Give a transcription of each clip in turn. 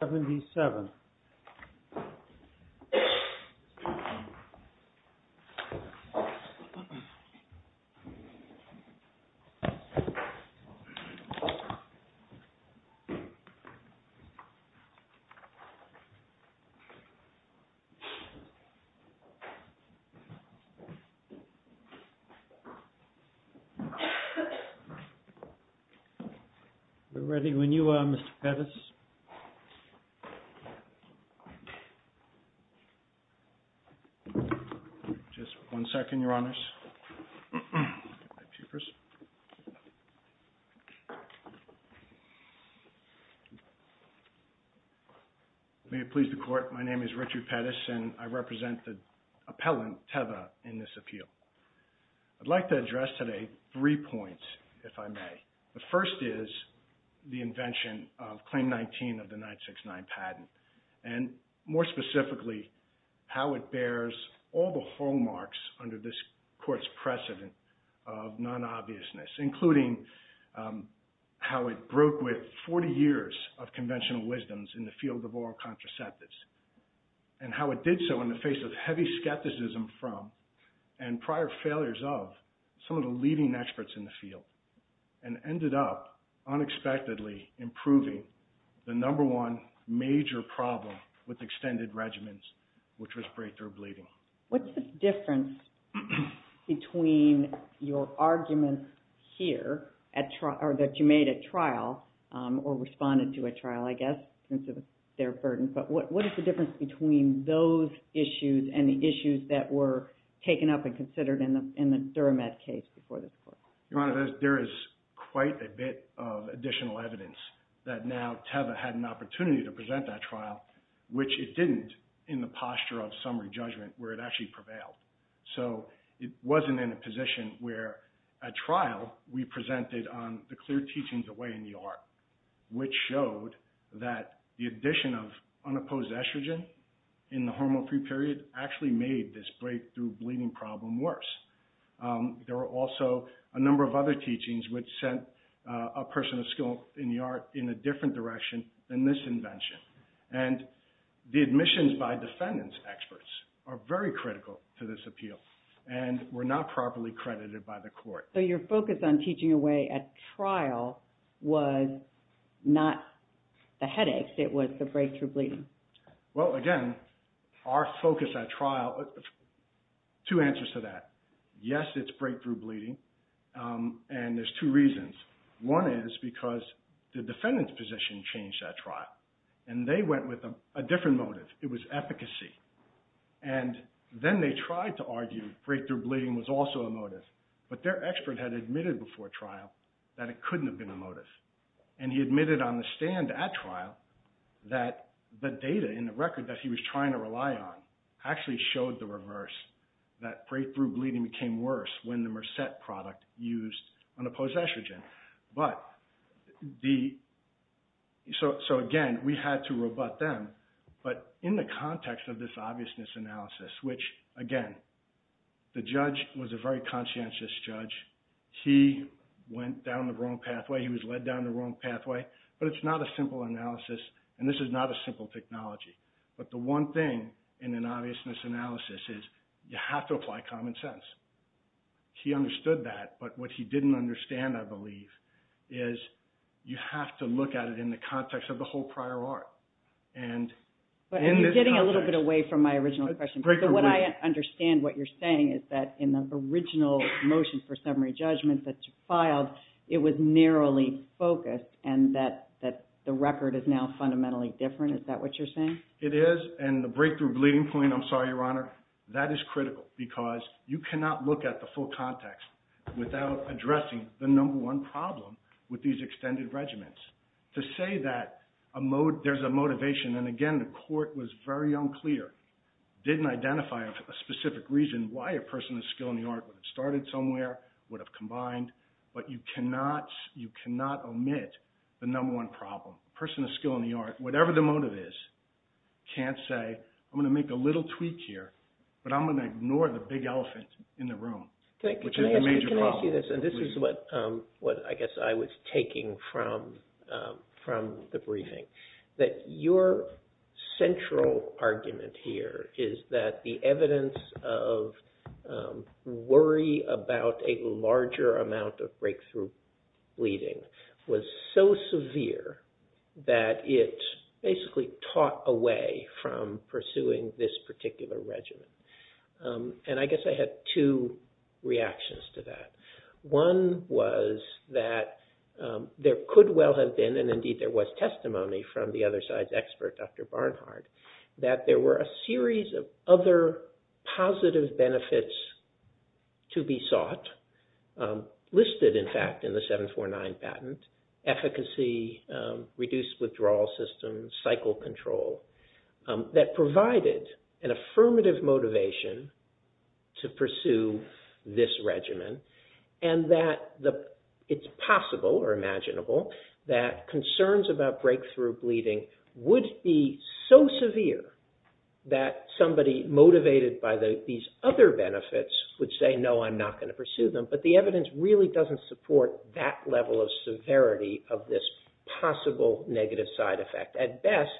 77 We're ready when you are, Mr. Pettis. Just one second, Your Honors. May it please the Court, my name is Richard Pettis and I represent the appellant, Teva, in this appeal. I'd like to address today three points, if I may. The first is the invention of Claim 19 of the 969 patent, and more specifically, how it bears all the hallmarks under this Court's precedent of non-obviousness, including how it broke with 40 years of conventional wisdoms in the field of oral contraceptives, and how it did so in the face of heavy skepticism from, and prior failures of, some of the leading experts in the field, and ended up, unexpectedly, improving the number one major problem with extended regimens, which was breakthrough bleeding. What's the difference between your arguments here, that you made at trial, or responded to at trial, I guess, in terms of their burden, but what is the difference between those issues and the issues that were taken up and considered in the Duramed case before this Court? Your Honor, there is quite a bit of additional evidence that now Teva had an opportunity to present at trial, which it didn't, in the posture of summary judgment, where it actually prevailed. So, it wasn't in a position where, at trial, we presented on the clear teachings of way in the art, which showed that the addition of unopposed estrogen in the hormone-free period actually made this breakthrough bleeding problem worse. There were also a number of other teachings which sent a person of skill in the art in a different direction than this invention. And the admissions by defendants experts are very critical to this appeal, and were not properly credited by the Court. So, your focus on teaching a way at trial was not the headaches, it was the breakthrough bleeding. Well, again, our focus at trial, two answers to that. Yes, it's breakthrough bleeding, and there's two reasons. One is because the defendant's position changed at trial, and they went with a different motive. It was efficacy. And then they tried to argue breakthrough bleeding was also a motive, but their expert had admitted before trial that it couldn't have been a motive. And he admitted on the stand at trial that the data in the record that he was trying to rely on actually showed the reverse, that breakthrough bleeding became worse when the Mercet product used unopposed estrogen. So, again, we had to rebut them, but in the context of this obviousness analysis, which again, the judge was a very conscientious judge. He went down the wrong pathway, he was led down the wrong pathway, but it's not a simple analysis, and this is not a simple technology. But the one thing in an obviousness analysis is you have to apply common sense. He understood that, but what he didn't understand, I believe, is you have to look at it in the context of the whole prior art. And in this context... But you're getting a little bit away from my original question, but what I understand what you're saying is that in the original motion for summary judgment that you filed, it was narrowly focused, and that the record is now fundamentally different, is that what you're saying? It is, and the breakthrough bleeding point, I'm sorry, Your Honor, that is critical because you cannot look at the full context without addressing the number one problem with these extended regiments. To say that there's a motivation, and again, the court was very unclear, didn't identify a specific reason why a person of skill in the art would have started somewhere, would have combined, but you cannot omit the number one problem. A person of skill in the art, whatever the motive is, can't say, I'm going to make a little tweak here, but I'm going to ignore the big elephant in the room, which is the major problem. Can I ask you this? And this is what I guess I was taking from the briefing, that your central argument here is that the evidence of worry about a larger amount of breakthrough bleeding was so severe that it basically taught away from pursuing this particular regiment. And I guess I had two reactions to that. One was that there could well have been, and indeed there was testimony from the other side's expert, Dr. Barnhart, that there were a series of other positive benefits to be reduced withdrawal system, cycle control, that provided an affirmative motivation to pursue this regimen, and that it's possible or imaginable that concerns about breakthrough bleeding would be so severe that somebody motivated by these other benefits would say, no, I'm not going to pursue them, but the evidence really doesn't support that level of severity of this possible negative side effect. At best,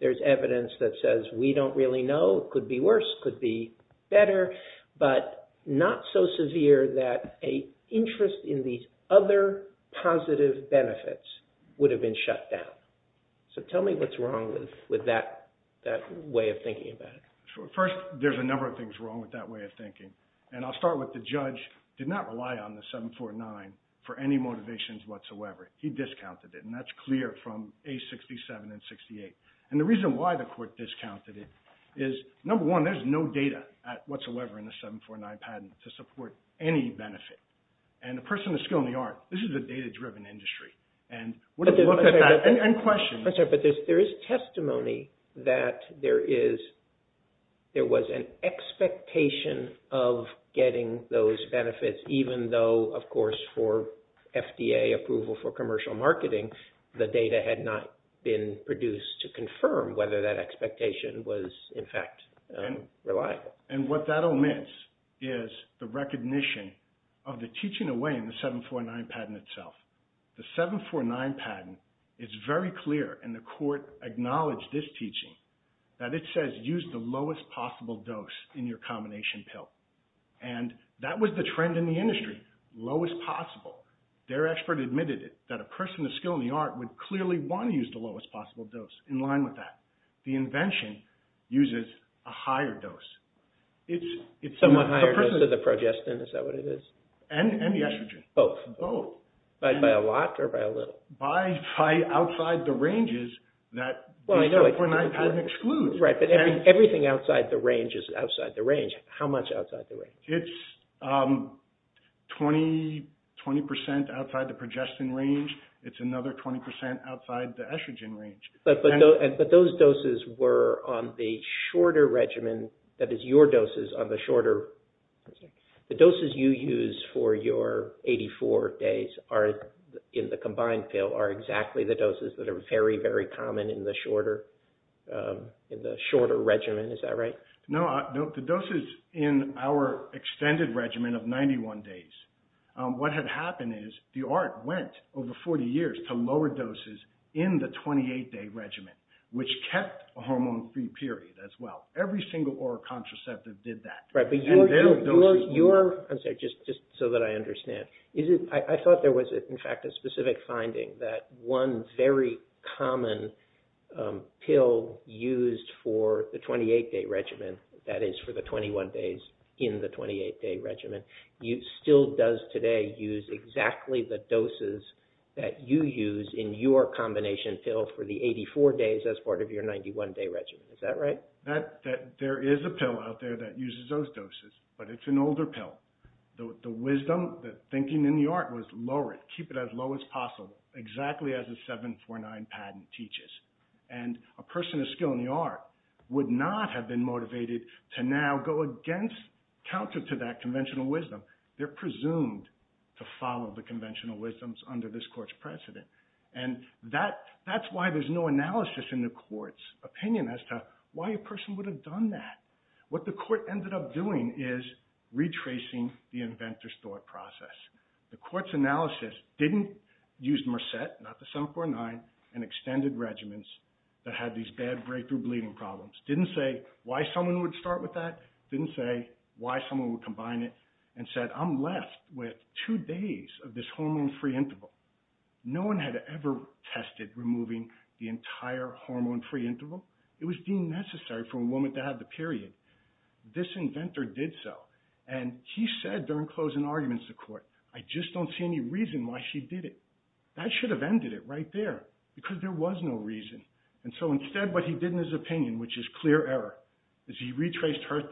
there's evidence that says, we don't really know, could be worse, could be better, but not so severe that an interest in these other positive benefits would have been shut down. So tell me what's wrong with that way of thinking about it. First, there's a number of things wrong with that way of thinking. And I'll start with the judge did not rely on the 749 for any motivations whatsoever. He discounted it, and that's clear from A67 and 68. And the reason why the court discounted it is, number one, there's no data whatsoever in the 749 patent to support any benefit. And a person of skill in the art, this is a data-driven industry. And when you look at that, and question. But there is testimony that there was an expectation of getting those benefits, even though, of course, for FDA approval for commercial marketing, the data had not been produced to confirm whether that expectation was, in fact, reliable. And what that omits is the recognition of the teaching away in the 749 patent itself. The 749 patent is very clear, and the court acknowledged this teaching, that it says use the lowest possible dose in your combination pill. And that was the trend in the industry, lowest possible. Their expert admitted it, that a person of skill in the art would clearly want to use the lowest possible dose in line with that. The invention uses a higher dose. It's somewhat higher than the progestin, is that what it is? And the estrogen. Both. By a lot or by a little? By outside the ranges that the 749 patent excludes. Right, but everything outside the range is outside the range. How much outside the range? It's 20% outside the progestin range. It's another 20% outside the estrogen range. But those doses were on the shorter regimen, that is, your doses on the shorter... The doses you use for your 84 days in the combined pill are exactly the doses that are very, very common in the shorter regimen, is that right? No, the doses in our extended regimen of 91 days, what had happened is the art went over 40 years to lower doses in the 28-day regimen, which kept a hormone-free period as well. Every single oral contraceptive did that. Right, but your... And their doses were... I'm sorry, just so that I understand. I thought there was, in fact, a specific finding that one very common pill used for the 28-day regimen, that is, for the 21 days in the 28-day regimen, still does today use exactly the doses that you use in your combination pill for the 84 days as part of your 91-day regimen. Is that right? Well, there is a pill out there that uses those doses, but it's an older pill. The wisdom, the thinking in the art was lower it, keep it as low as possible, exactly as the 749 patent teaches. And a person of skill in the art would not have been motivated to now go against, counter to that conventional wisdom. They're presumed to follow the conventional wisdoms under this court's precedent. And that's why there's no analysis in the court's opinion as to why a person would have done that. What the court ended up doing is retracing the inventor's thought process. The court's analysis didn't use Mercet, not the 749, and extended regimens that had these bad breakthrough bleeding problems. Didn't say why someone would start with that, didn't say why someone would combine it, and said, I'm left with two days of this hormone-free interval. No one had ever tested removing the entire hormone-free interval. It was deemed necessary for a woman to have the period. This inventor did so, and he said during closing arguments to court, I just don't see any reason why she did it. That should have ended it right there, because there was no reason. And so instead what he did in his opinion, which is clear error, is he retraced her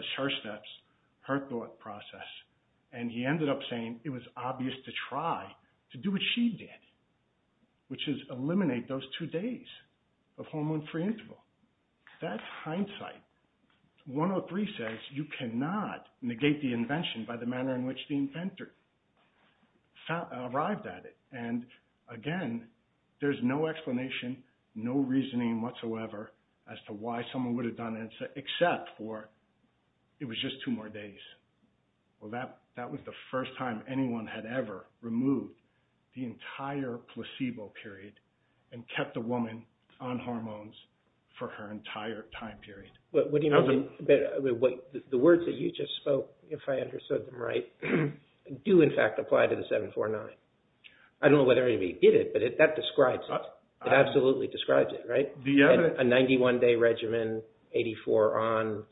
steps, her thought process. And he ended up saying it was obvious to try to do what she did, which is eliminate those two days of hormone-free interval. That's hindsight. 103 says you cannot negate the invention by the manner in which the inventor arrived at it. And again, there's no explanation, no reasoning whatsoever as to why someone would have done it, except for it was just two more days. Well, that was the first time anyone had ever removed the entire placebo period and kept a woman on hormones for her entire time period. What do you mean? The words that you just spoke, if I understood them right, do in fact apply to the 749. I don't know whether anybody did it, but that describes it. It absolutely describes it, right? A 91-day regimen, 84 on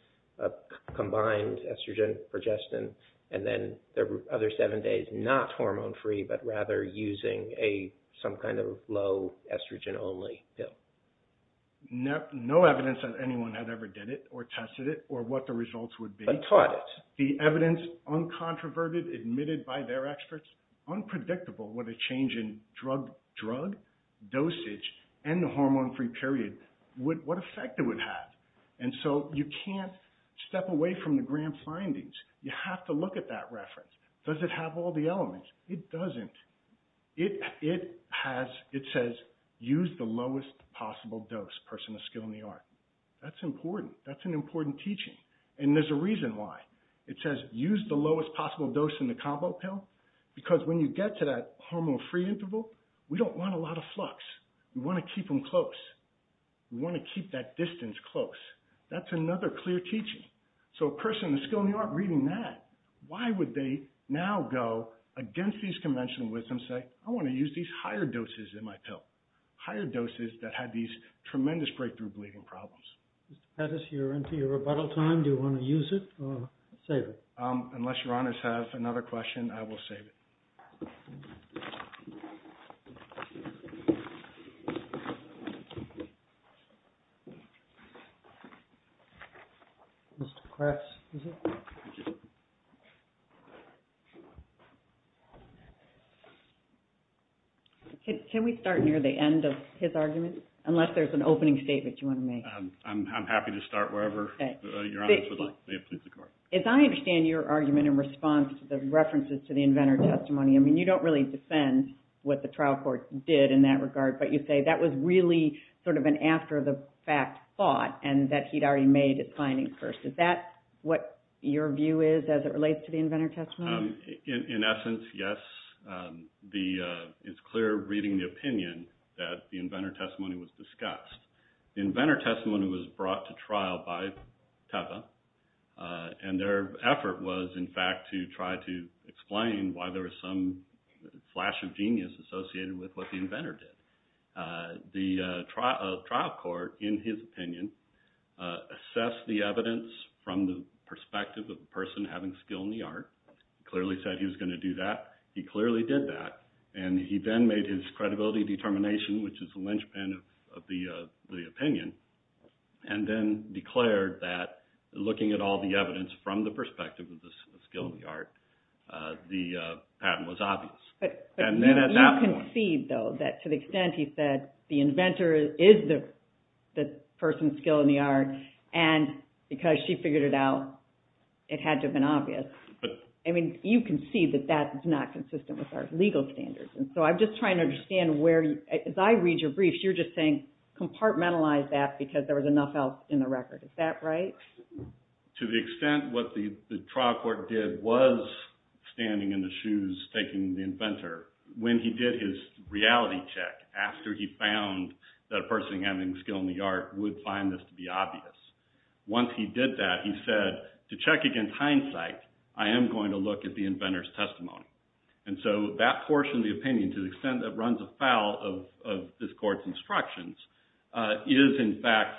combined estrogen, progestin, and then there were other seven days not hormone-free, but rather using some kind of low estrogen-only pill. No evidence that anyone had ever did it or tested it or what the results would be. But taught it. The evidence, uncontroverted, admitted by their experts, unpredictable with a change in drug dosage and the hormone-free period, what effect it would have. And so you can't step away from the grand findings. You have to look at that reference. Does it have all the elements? It doesn't. It says, use the lowest possible dose, person of skill in the art. That's important. That's an important teaching. And there's a reason why. It says, use the lowest possible dose in the combo pill, because when you get to that hormone-free interval, we don't want a lot of flux. We want to keep them close. We want to keep that distance close. That's another clear teaching. So a person of the skill in the art reading that, why would they now go against these conventional wisdoms and say, I want to use these higher doses in my pill, higher doses that had these tremendous breakthrough bleeding problems? Mr. Pettis, you're into your rebuttal time. Do you want to use it or save it? Unless Your Honors have another question, I will save it. Mr. Kress, is it? Thank you. Can we start near the end of his argument? Unless there's an opening statement you want to make. Basically. As I understand your argument in response to the references to the inventor testimony, I mean, you don't really defend what the trial court did in that regard, but you say that was really sort of an after-the-fact thought and that he'd already made his finding first. Is that what your view is as it relates to the inventor testimony? In essence, yes. It's clear reading the opinion that the inventor testimony was discussed. Inventor testimony was brought to trial by Teva, and their effort was, in fact, to try to explain why there was some flash of genius associated with what the inventor did. The trial court, in his opinion, assessed the evidence from the perspective of the person having skill in the art, clearly said he was going to do that, he clearly did that, and he then made his credibility determination, which is the linchpin of the opinion, and then declared that, looking at all the evidence from the perspective of the skill in the art, the patent was obvious. But you concede, though, that to the extent he said the inventor is the person's skill in the art, and because she figured it out, it had to have been obvious. You concede that that is not consistent with our legal standards. I'm just trying to understand where, as I read your briefs, you're just saying compartmentalize that because there was enough else in the record. Is that right? To the extent what the trial court did was standing in the shoes, taking the inventor, when he did his reality check, after he found that a person having skill in the art would find this to be obvious, once he did that, he said, to check against hindsight, I am going to look at the inventor's testimony. And so that portion of the opinion, to the extent that runs afoul of this court's instructions, is in fact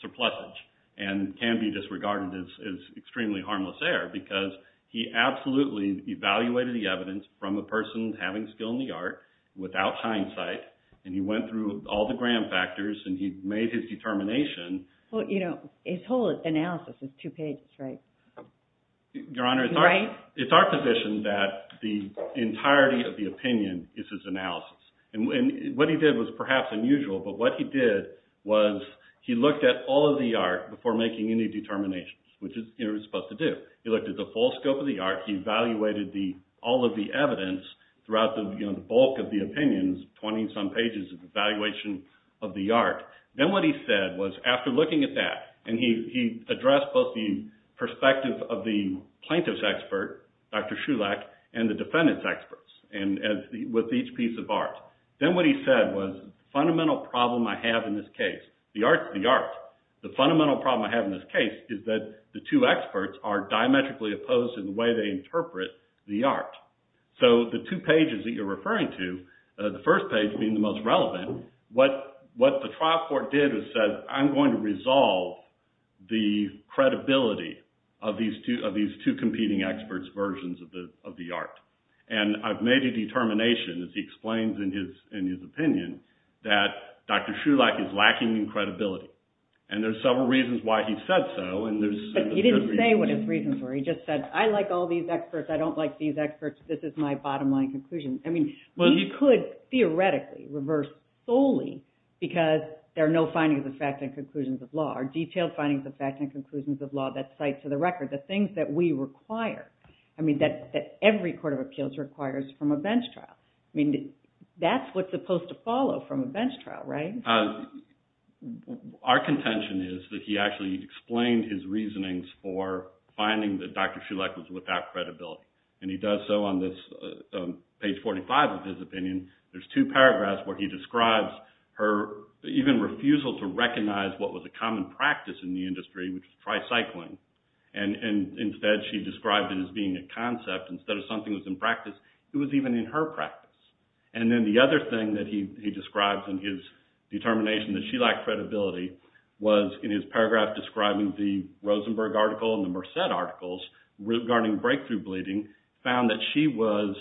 surplusage, and can be disregarded as extremely harmless error, because he absolutely evaluated the evidence from a person having skill in the art, without hindsight, and he went through all the gram factors, and he made his determination. His whole analysis is two pages, right? Your Honor, it's our position that the entirety of the opinion is his analysis. And what he did was perhaps unusual, but what he did was he looked at all of the art before making any determinations, which is what he was supposed to do. He looked at the full scope of the art, he evaluated all of the evidence throughout the bulk of the opinions, 20 some pages of evaluation of the art. Then what he said was, after looking at that, and he addressed both the perspective of the plaintiff's expert, Dr. Shulak, and the defendant's experts, with each piece of art. Then what he said was, the fundamental problem I have in this case, the art's the art. The fundamental problem I have in this case is that the two experts are diametrically opposed in the way they interpret the art. So the two pages that you're referring to, the first page being the most relevant, what the trial court did is said, I'm going to resolve the credibility of these two competing experts' versions of the art. And I've made a determination, as he explains in his opinion, that Dr. Shulak is lacking in credibility. And there's several reasons why he said so, and there's... But he didn't say what his reasons were. He just said, I like all these experts, I don't like these experts, this is my bottom line conclusion. I mean, he could theoretically reverse solely because there are no findings of fact and conclusions of law, or detailed findings of fact and conclusions of law that cite to the record the things that we require. I mean, that every court of appeals requires from a bench trial. I mean, that's what's supposed to follow from a bench trial, right? Our contention is that he actually explained his reasonings for finding that Dr. Shulak was without credibility. And he does so on this page 45 of his opinion. There's two paragraphs where he describes her even refusal to recognize what was a common practice in the industry, which was tricycling. And instead, she described it as being a concept. Instead of something that was in practice, it was even in her practice. And then the other thing that he describes in his determination that she lacked credibility was in his paragraph describing the Rosenberg article and the Merced articles regarding breakthrough bleeding, found that she was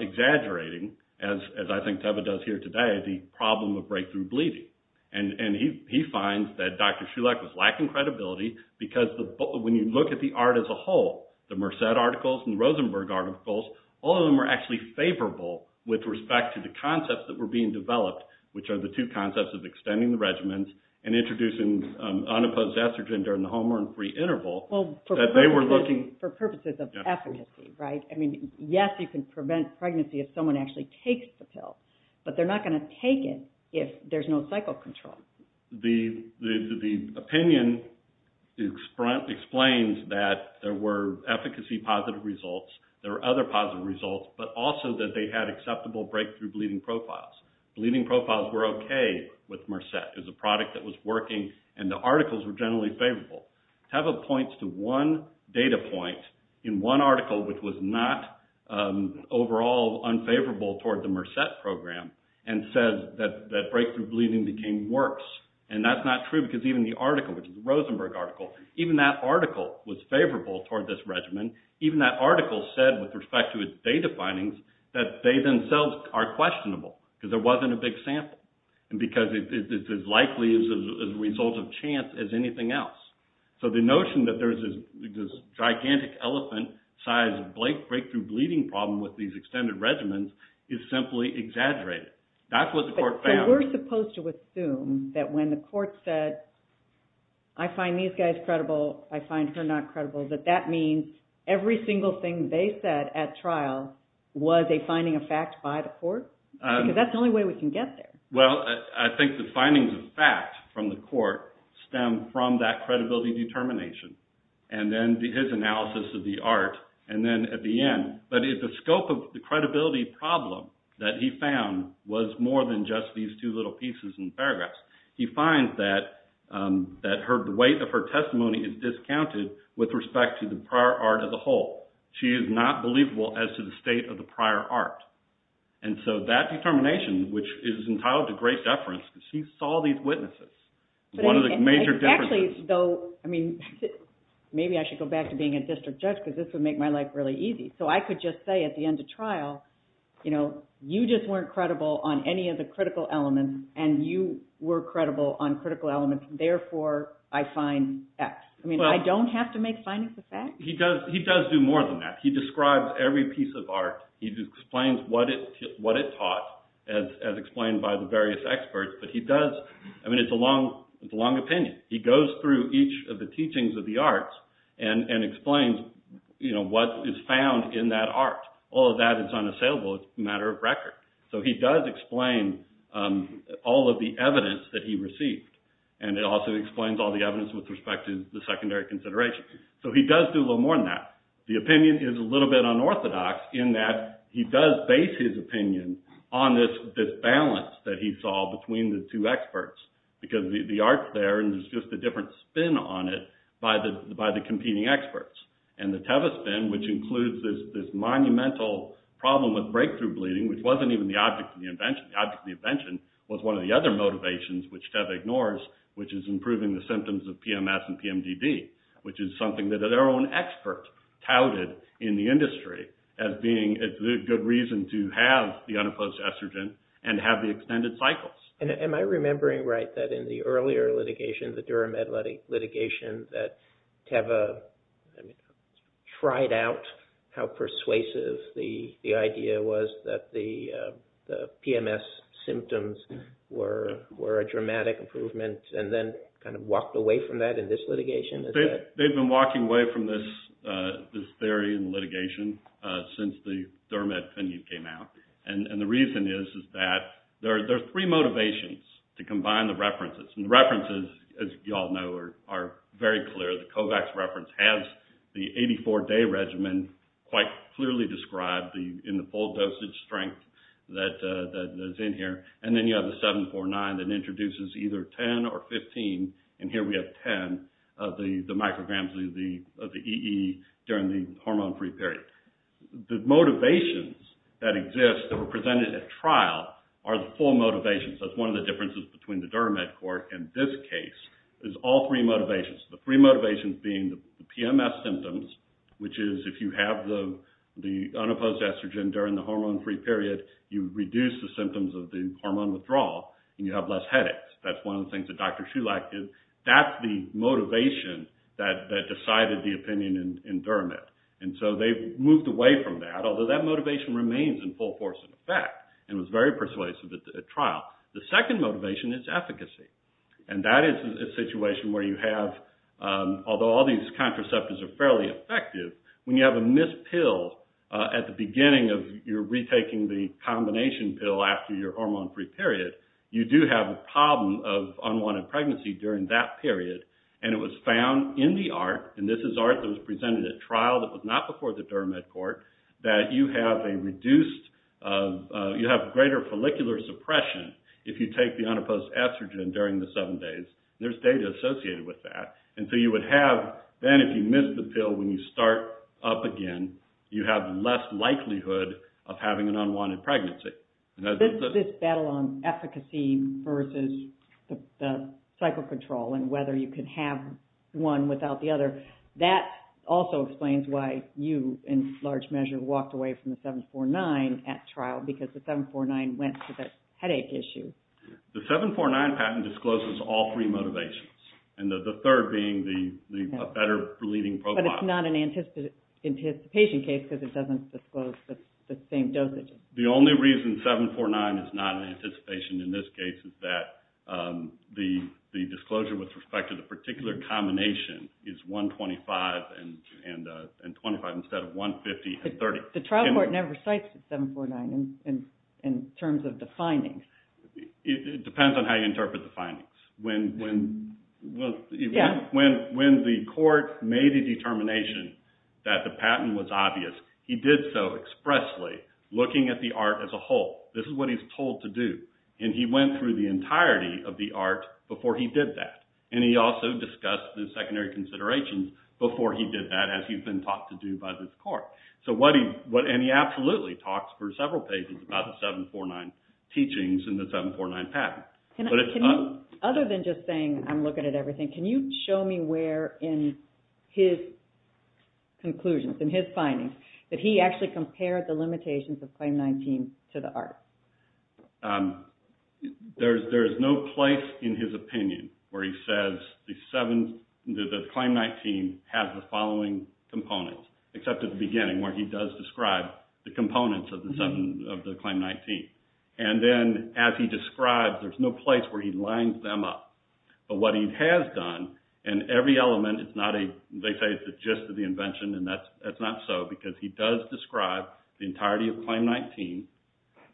exaggerating, as I think Teva does here today, the problem of breakthrough bleeding. And he finds that Dr. Shulak was lacking credibility because when you look at the art as a whole, the Merced articles and the Rosenberg articles, all of them are actually favorable with respect to the concepts that were being developed, which are the two concepts of extending the regimens and introducing unopposed estrogen during the home run free interval that they were looking... For purposes of efficacy, right? I mean, yes, you can prevent pregnancy if someone actually takes the pill. But they're not going to take it if there's no cycle control. The opinion explains that there were efficacy positive results. There were other positive results, but also that they had acceptable breakthrough bleeding profiles. Bleeding profiles were okay with Merced. It was a product that was working, and the articles were generally favorable. Teva points to one data point in one article which was not overall unfavorable toward the course. And that's not true because even the article, which is the Rosenberg article, even that article was favorable toward this regimen. Even that article said, with respect to its data findings, that they themselves are questionable because there wasn't a big sample and because it's as likely as a result of chance as anything else. So the notion that there's this gigantic elephant size breakthrough bleeding problem with these extended regimens is simply exaggerated. That's what the court found. So we're supposed to assume that when the court said, I find these guys credible, I find her not credible, that that means every single thing they said at trial was a finding of fact by the court? Because that's the only way we can get there. Well, I think the findings of fact from the court stem from that credibility determination and then his analysis of the art and then at the end. But if the scope of the credibility problem that he found was more than just these two little pieces and paragraphs, he finds that the weight of her testimony is discounted with respect to the prior art as a whole. She is not believable as to the state of the prior art. And so that determination, which is entitled to great deference, because he saw these witnesses, one of the major differences. Maybe I should go back to being a district judge because this would make my life really easy. So I could just say at the end of trial, you know, you just weren't credible on any of the critical elements and you were credible on critical elements. Therefore, I find X. I mean, I don't have to make findings of fact? He does do more than that. He describes every piece of art. He just explains what it taught as explained by the various experts. But he does, I mean, it's a long opinion. He goes through each of the teachings of the arts and explains, you know, what is found in that art. All of that is unassailable. It's a matter of record. So he does explain all of the evidence that he received. And he also explains all the evidence with respect to the secondary consideration. So he does do a little more than that. The opinion is a little bit unorthodox in that he does base his opinion on this balance that he saw between the two experts. Because the art's there and there's just a different spin on it by the competing experts. And the TEVA spin, which includes this monumental problem with breakthrough bleeding, which wasn't even the object of the invention, was one of the other motivations which TEVA ignores, which is improving the symptoms of PMS and PMDD, which is something that their own expert touted in the industry as being a good reason to have the unopposed estrogen and have the extended cycles. Am I remembering right that in the earlier litigation, the Duramed litigation, that TEVA tried out how persuasive the idea was that the PMS symptoms were a dramatic improvement and then kind of walked away from that in this litigation? They've been walking away from this theory in litigation since the Duramed came out. And the reason is that there are three motivations to combine the references. And the references, as you all know, are very clear. The COVAX reference has the 84-day regimen quite clearly described in the full dosage strength that is in here. And then you have the 749 that introduces either 10 or 15. And here we have 10 of the micrograms of the EE during the hormone-free period. The motivations that exist that were presented at trial are the full motivations. That's one of the differences between the Duramed court and this case is all three motivations. The three motivations being the PMS symptoms, which is if you have the unopposed estrogen during the hormone-free period, you reduce the symptoms of the hormone withdrawal and you have less headaches. That's one of the things that Dr. Shulak did. That's the motivation that decided the opinion in Duramed. And so they moved away from that, although that motivation remains in full force in effect and was very persuasive at trial. The second motivation is efficacy. And that is a situation where you have, although all these contraceptives are fairly effective, when you have a missed pill at the beginning of your retaking the combination pill after your hormone-free period, you do have a problem of unwanted pregnancy during that period. And it was found in the ART, and this is ART that was presented at trial that was not before the Duramed court, that you have a reduced, you have greater follicular suppression if you take the unopposed estrogen during the seven days. There's data associated with that. And so you would have, then if you missed the pill when you start up again, you have less likelihood of having an unwanted pregnancy. This battle on efficacy versus the cycle control and whether you could have one without the other, that also explains why you, in large measure, walked away from the 749 at trial because the 749 went to the headache issue. The 749 patent discloses all three motivations, and the third being a better relieving profile. But it's not an anticipation case because it doesn't disclose the same dosage. The only reason 749 is not an anticipation in this case is that the disclosure with respect to the particular combination is 125 and 25 instead of 150 and 30. The trial court never cites the 749 in terms of the findings. It depends on how you interpret the findings. When the court made the determination that the patent was obvious, he did so expressly looking at the art as a whole. This is what he's told to do. And he went through the entirety of the art before he did that. And he also discussed the secondary considerations before he did that as he's been taught to do by this court. And he absolutely talks for several pages about the 749 teachings and the 749 patent. But it's not... Other than just saying I'm looking at everything, can you show me where in his conclusions, in his findings, that he actually compared the limitations of Claim 19 to the art? There's no place in his opinion where he says the Claim 19 has the following components except at the beginning where he does describe the components of the Claim 19. And then as he describes, there's no place where he lines them up. But what he has done in every element, it's not a... They say it's the gist of the invention. And that's not so because he does describe the entirety of Claim 19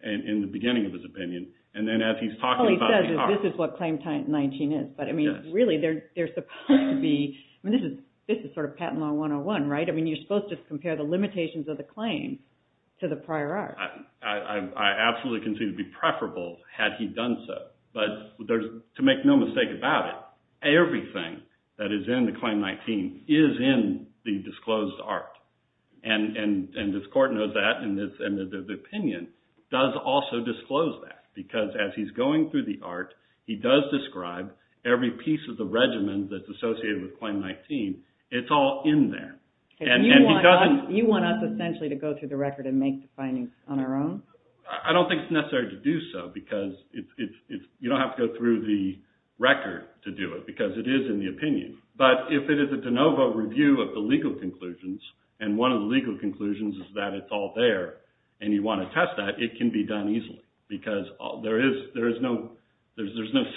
in the beginning of his opinion. And then as he's talking about the art... All he says is this is what Claim 19 is. But I mean, really, there's supposed to be... I mean, this is sort of Patent Law 101, right? I mean, you're supposed to compare the limitations of the claim to the prior art. I absolutely can see it would be preferable had he done so. But to make no mistake about it, everything that is in the Claim 19 is in the disclosed art. And this court knows that, and the opinion does also disclose that. Because as he's going through the art, he does describe every piece of the regimen that's associated with Claim 19. It's all in there. And he doesn't... You want us essentially to go through the record and make the findings on our own? I don't think it's necessary to do so. Because you don't have to go through the record to do it. Because it is in the opinion. But if it is a de novo review of the legal conclusions, and one of the legal conclusions is that it's all there, and you want to test that, it can be done easily. Because there is no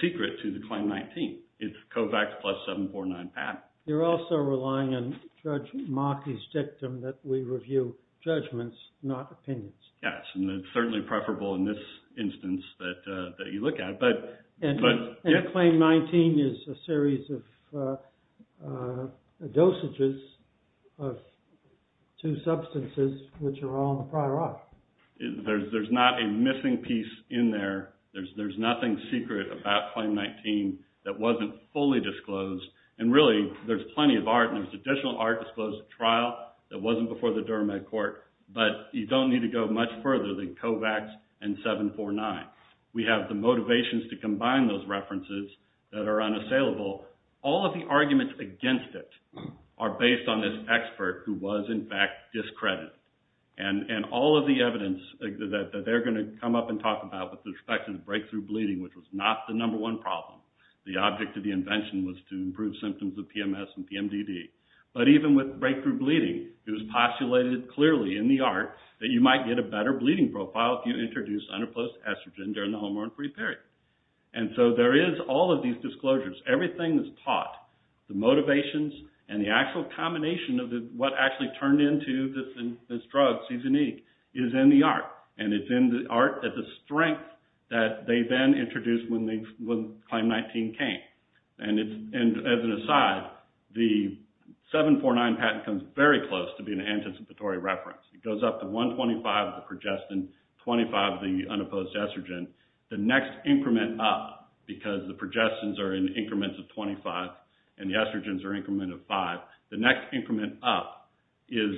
secret to the Claim 19. It's COVAX plus 749-PAT. You're also relying on Judge Markey's dictum that we review judgments, not opinions. Yes, and it's certainly preferable in this instance that you look at. And Claim 19 is a series of dosages of two substances which are all in the prior art. There's not a missing piece in there. There's nothing secret about Claim 19 that wasn't fully disclosed. And really, there's plenty of art, and there's additional art disclosed at trial that wasn't before the Durham Med Court. But you don't need to go much further than COVAX and 749. We have the motivations to combine those references that are unassailable. All of the arguments against it are based on this expert who was, in fact, discredited. And all of the evidence that they're going to come up and talk about with respect to breakthrough bleeding, which was not the number one problem. The object of the invention was to improve symptoms of PMS and PMDD. But even with breakthrough bleeding, it was postulated clearly in the art that you might get a better bleeding profile if you introduce unopposed estrogen during the hormone-free period. And so there is all of these disclosures. Everything that's taught, the motivations and the actual combination of what actually turned into this drug, Seasonic, is in the art. And it's in the art that the strength that they then introduced when Claim 19 came. And as an aside, the 749 patent comes very close to being an anticipatory reference. It goes up to 125 of the progestin, 25 of the unopposed estrogen. The next increment up, because the progestins are in increments of 25 and the estrogens are in increments of 5, the next increment up is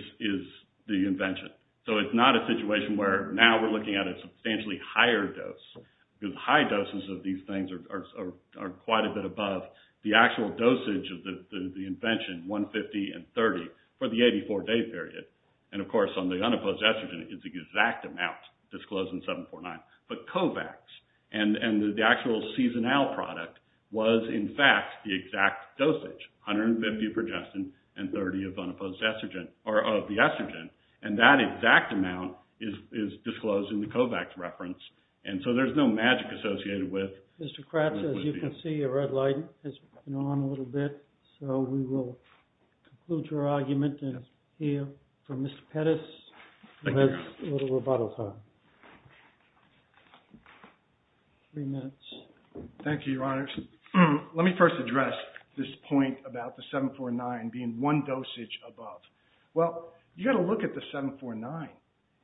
the invention. So it's not a situation where now we're looking at a substantially higher dose. Because high doses of these things are quite a bit above the actual dosage of the invention, 150 and 30, for the 84-day period. And of course, on the unopposed estrogen, it's the exact amount disclosed in 749. But COVAX and the actual Seasonal product was, in fact, the exact dosage, 150 of progestin and 30 of unopposed estrogen, or of the estrogen. And that exact amount is disclosed in the COVAX reference. And so there's no magic associated with it. Mr. Kratz, as you can see, a red light has been on a little bit. So we will conclude your argument and hear from Mr. Pettis. Thank you. And let's do a little rebuttal time. Three minutes. Thank you, Your Honors. Let me first address this point about the 749 being one dosage above. Well, you've got to look at the 749.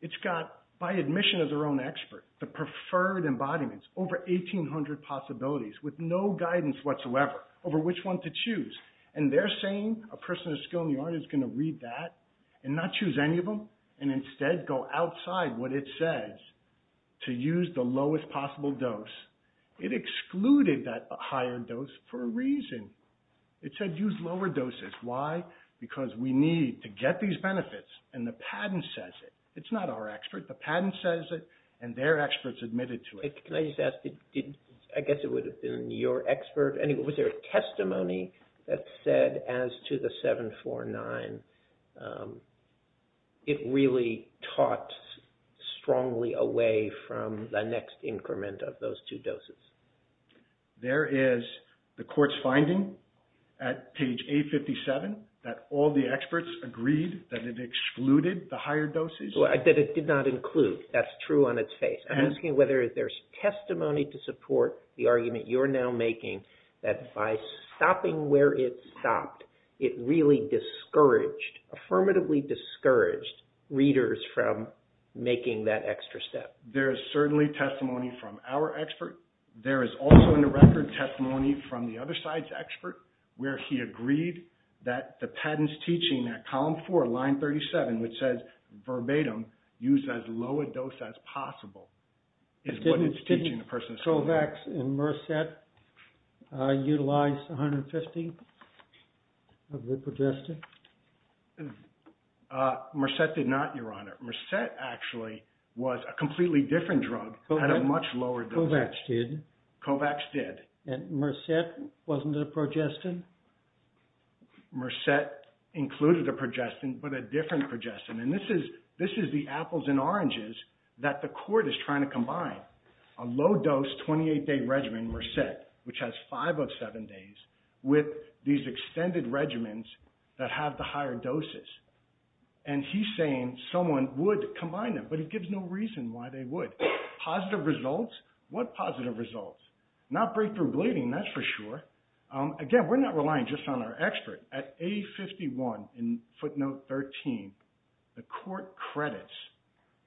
It's got, by admission as our own expert, the preferred embodiments, over 1,800 possibilities with no guidance whatsoever over which one to choose. And they're saying a person of skill in the art is going to read that and not choose any of them and instead go outside what it says to use the lowest possible dose. It excluded that higher dose for a reason. It said use lower doses. Why? Because we need to get these benefits, and the patent says it. It's not our expert. The patent says it, and they're experts admitted to it. Can I just ask, I guess it would have been your expert. Was there a testimony that said as to the 749, it really taught strongly away from the next increment of those two doses? There is the court's finding at page 857 that all the experts agreed that it excluded the higher doses. That it did not include. That's true on its face. I'm asking whether there's testimony to support the argument you're now making that by stopping where it stopped, it really discouraged, affirmatively discouraged readers from making that extra step. There is certainly testimony from our expert. There is also in the record testimony from the other side's expert where he agreed that the patent's teaching that column four, line 37, which says verbatim use as low a dose as possible is what it's teaching the person. Didn't Kovacs and Merced utilize 150 of the progesterone? Merced did not, Your Honor. Merced actually was a completely different drug at a much lower dose. Kovacs did. Kovacs did. And Merced wasn't a progesterone? Merced included a progesterone but a different progesterone. And this is the apples and oranges that the court is trying to combine. A low dose 28-day regimen, Merced, which has five of seven days with these extended regimens that have the higher doses. And he's saying someone would combine them, but he gives no reason why they would. Positive results? What positive results? Not breakthrough bleeding, that's for sure. Again, we're not relying just on our expert. At A51 in footnote 13, the court credits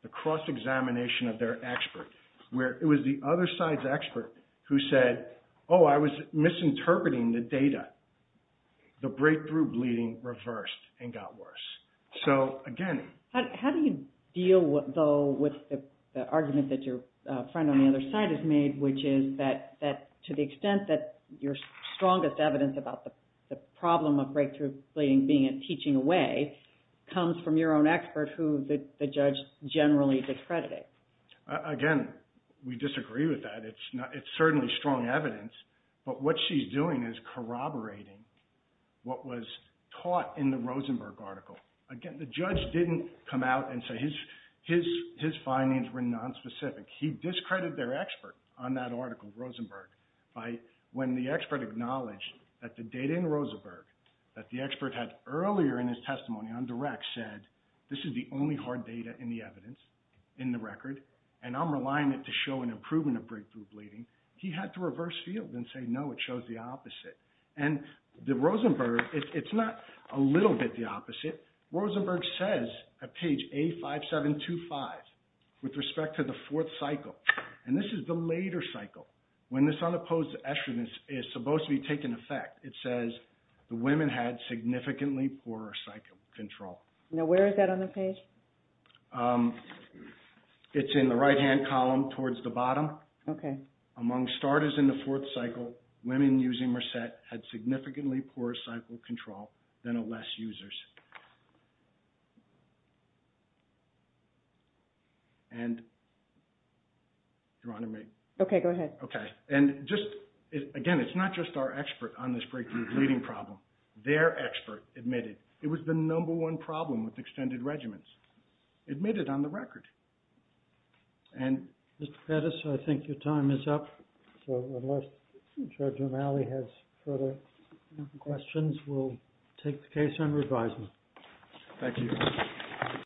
the cross-examination of their expert where it was the other side's expert who said, oh, I was misinterpreting the data. The breakthrough bleeding reversed and got worse. So, again. How do you deal, though, with the argument that your friend on the other side has made, which is that to the extent that your strongest evidence about the problem of breakthrough bleeding being a teaching away comes from your own expert who the judge generally discredited? Again, we disagree with that. It's certainly strong evidence, but what she's doing is corroborating what was taught in the Rosenberg article. Again, the judge didn't come out and say his findings were nonspecific. He discredited their expert on that article, Rosenberg, when the expert acknowledged that the data in Rosenberg that the expert had earlier in his testimony on direct said this is the only hard data in the evidence, in the record, and I'm reliant to show an improvement of breakthrough bleeding. He had to reverse field and say, no, it shows the opposite. And the Rosenberg, it's not a little bit the opposite. Rosenberg says at page A5725 with respect to the fourth cycle, and this is the later cycle when this unopposed estrogens is supposed to be taking effect. It says the women had significantly poorer cycle control. Now, where is that on the page? It's in the right-hand column towards the bottom. Okay. Among starters in the fourth cycle, women using Mercet had significantly poorer cycle control than of less users. And, Your Honor, may I? Okay, go ahead. Okay. And just, again, it's not just our expert on this breakthrough bleeding problem. Their expert admitted it was the number one problem with extended regiments. Admitted on the record. And Mr. Pettis, I think your time is up. So unless Judge O'Malley has further questions, we'll take the case and revise it. Thank you.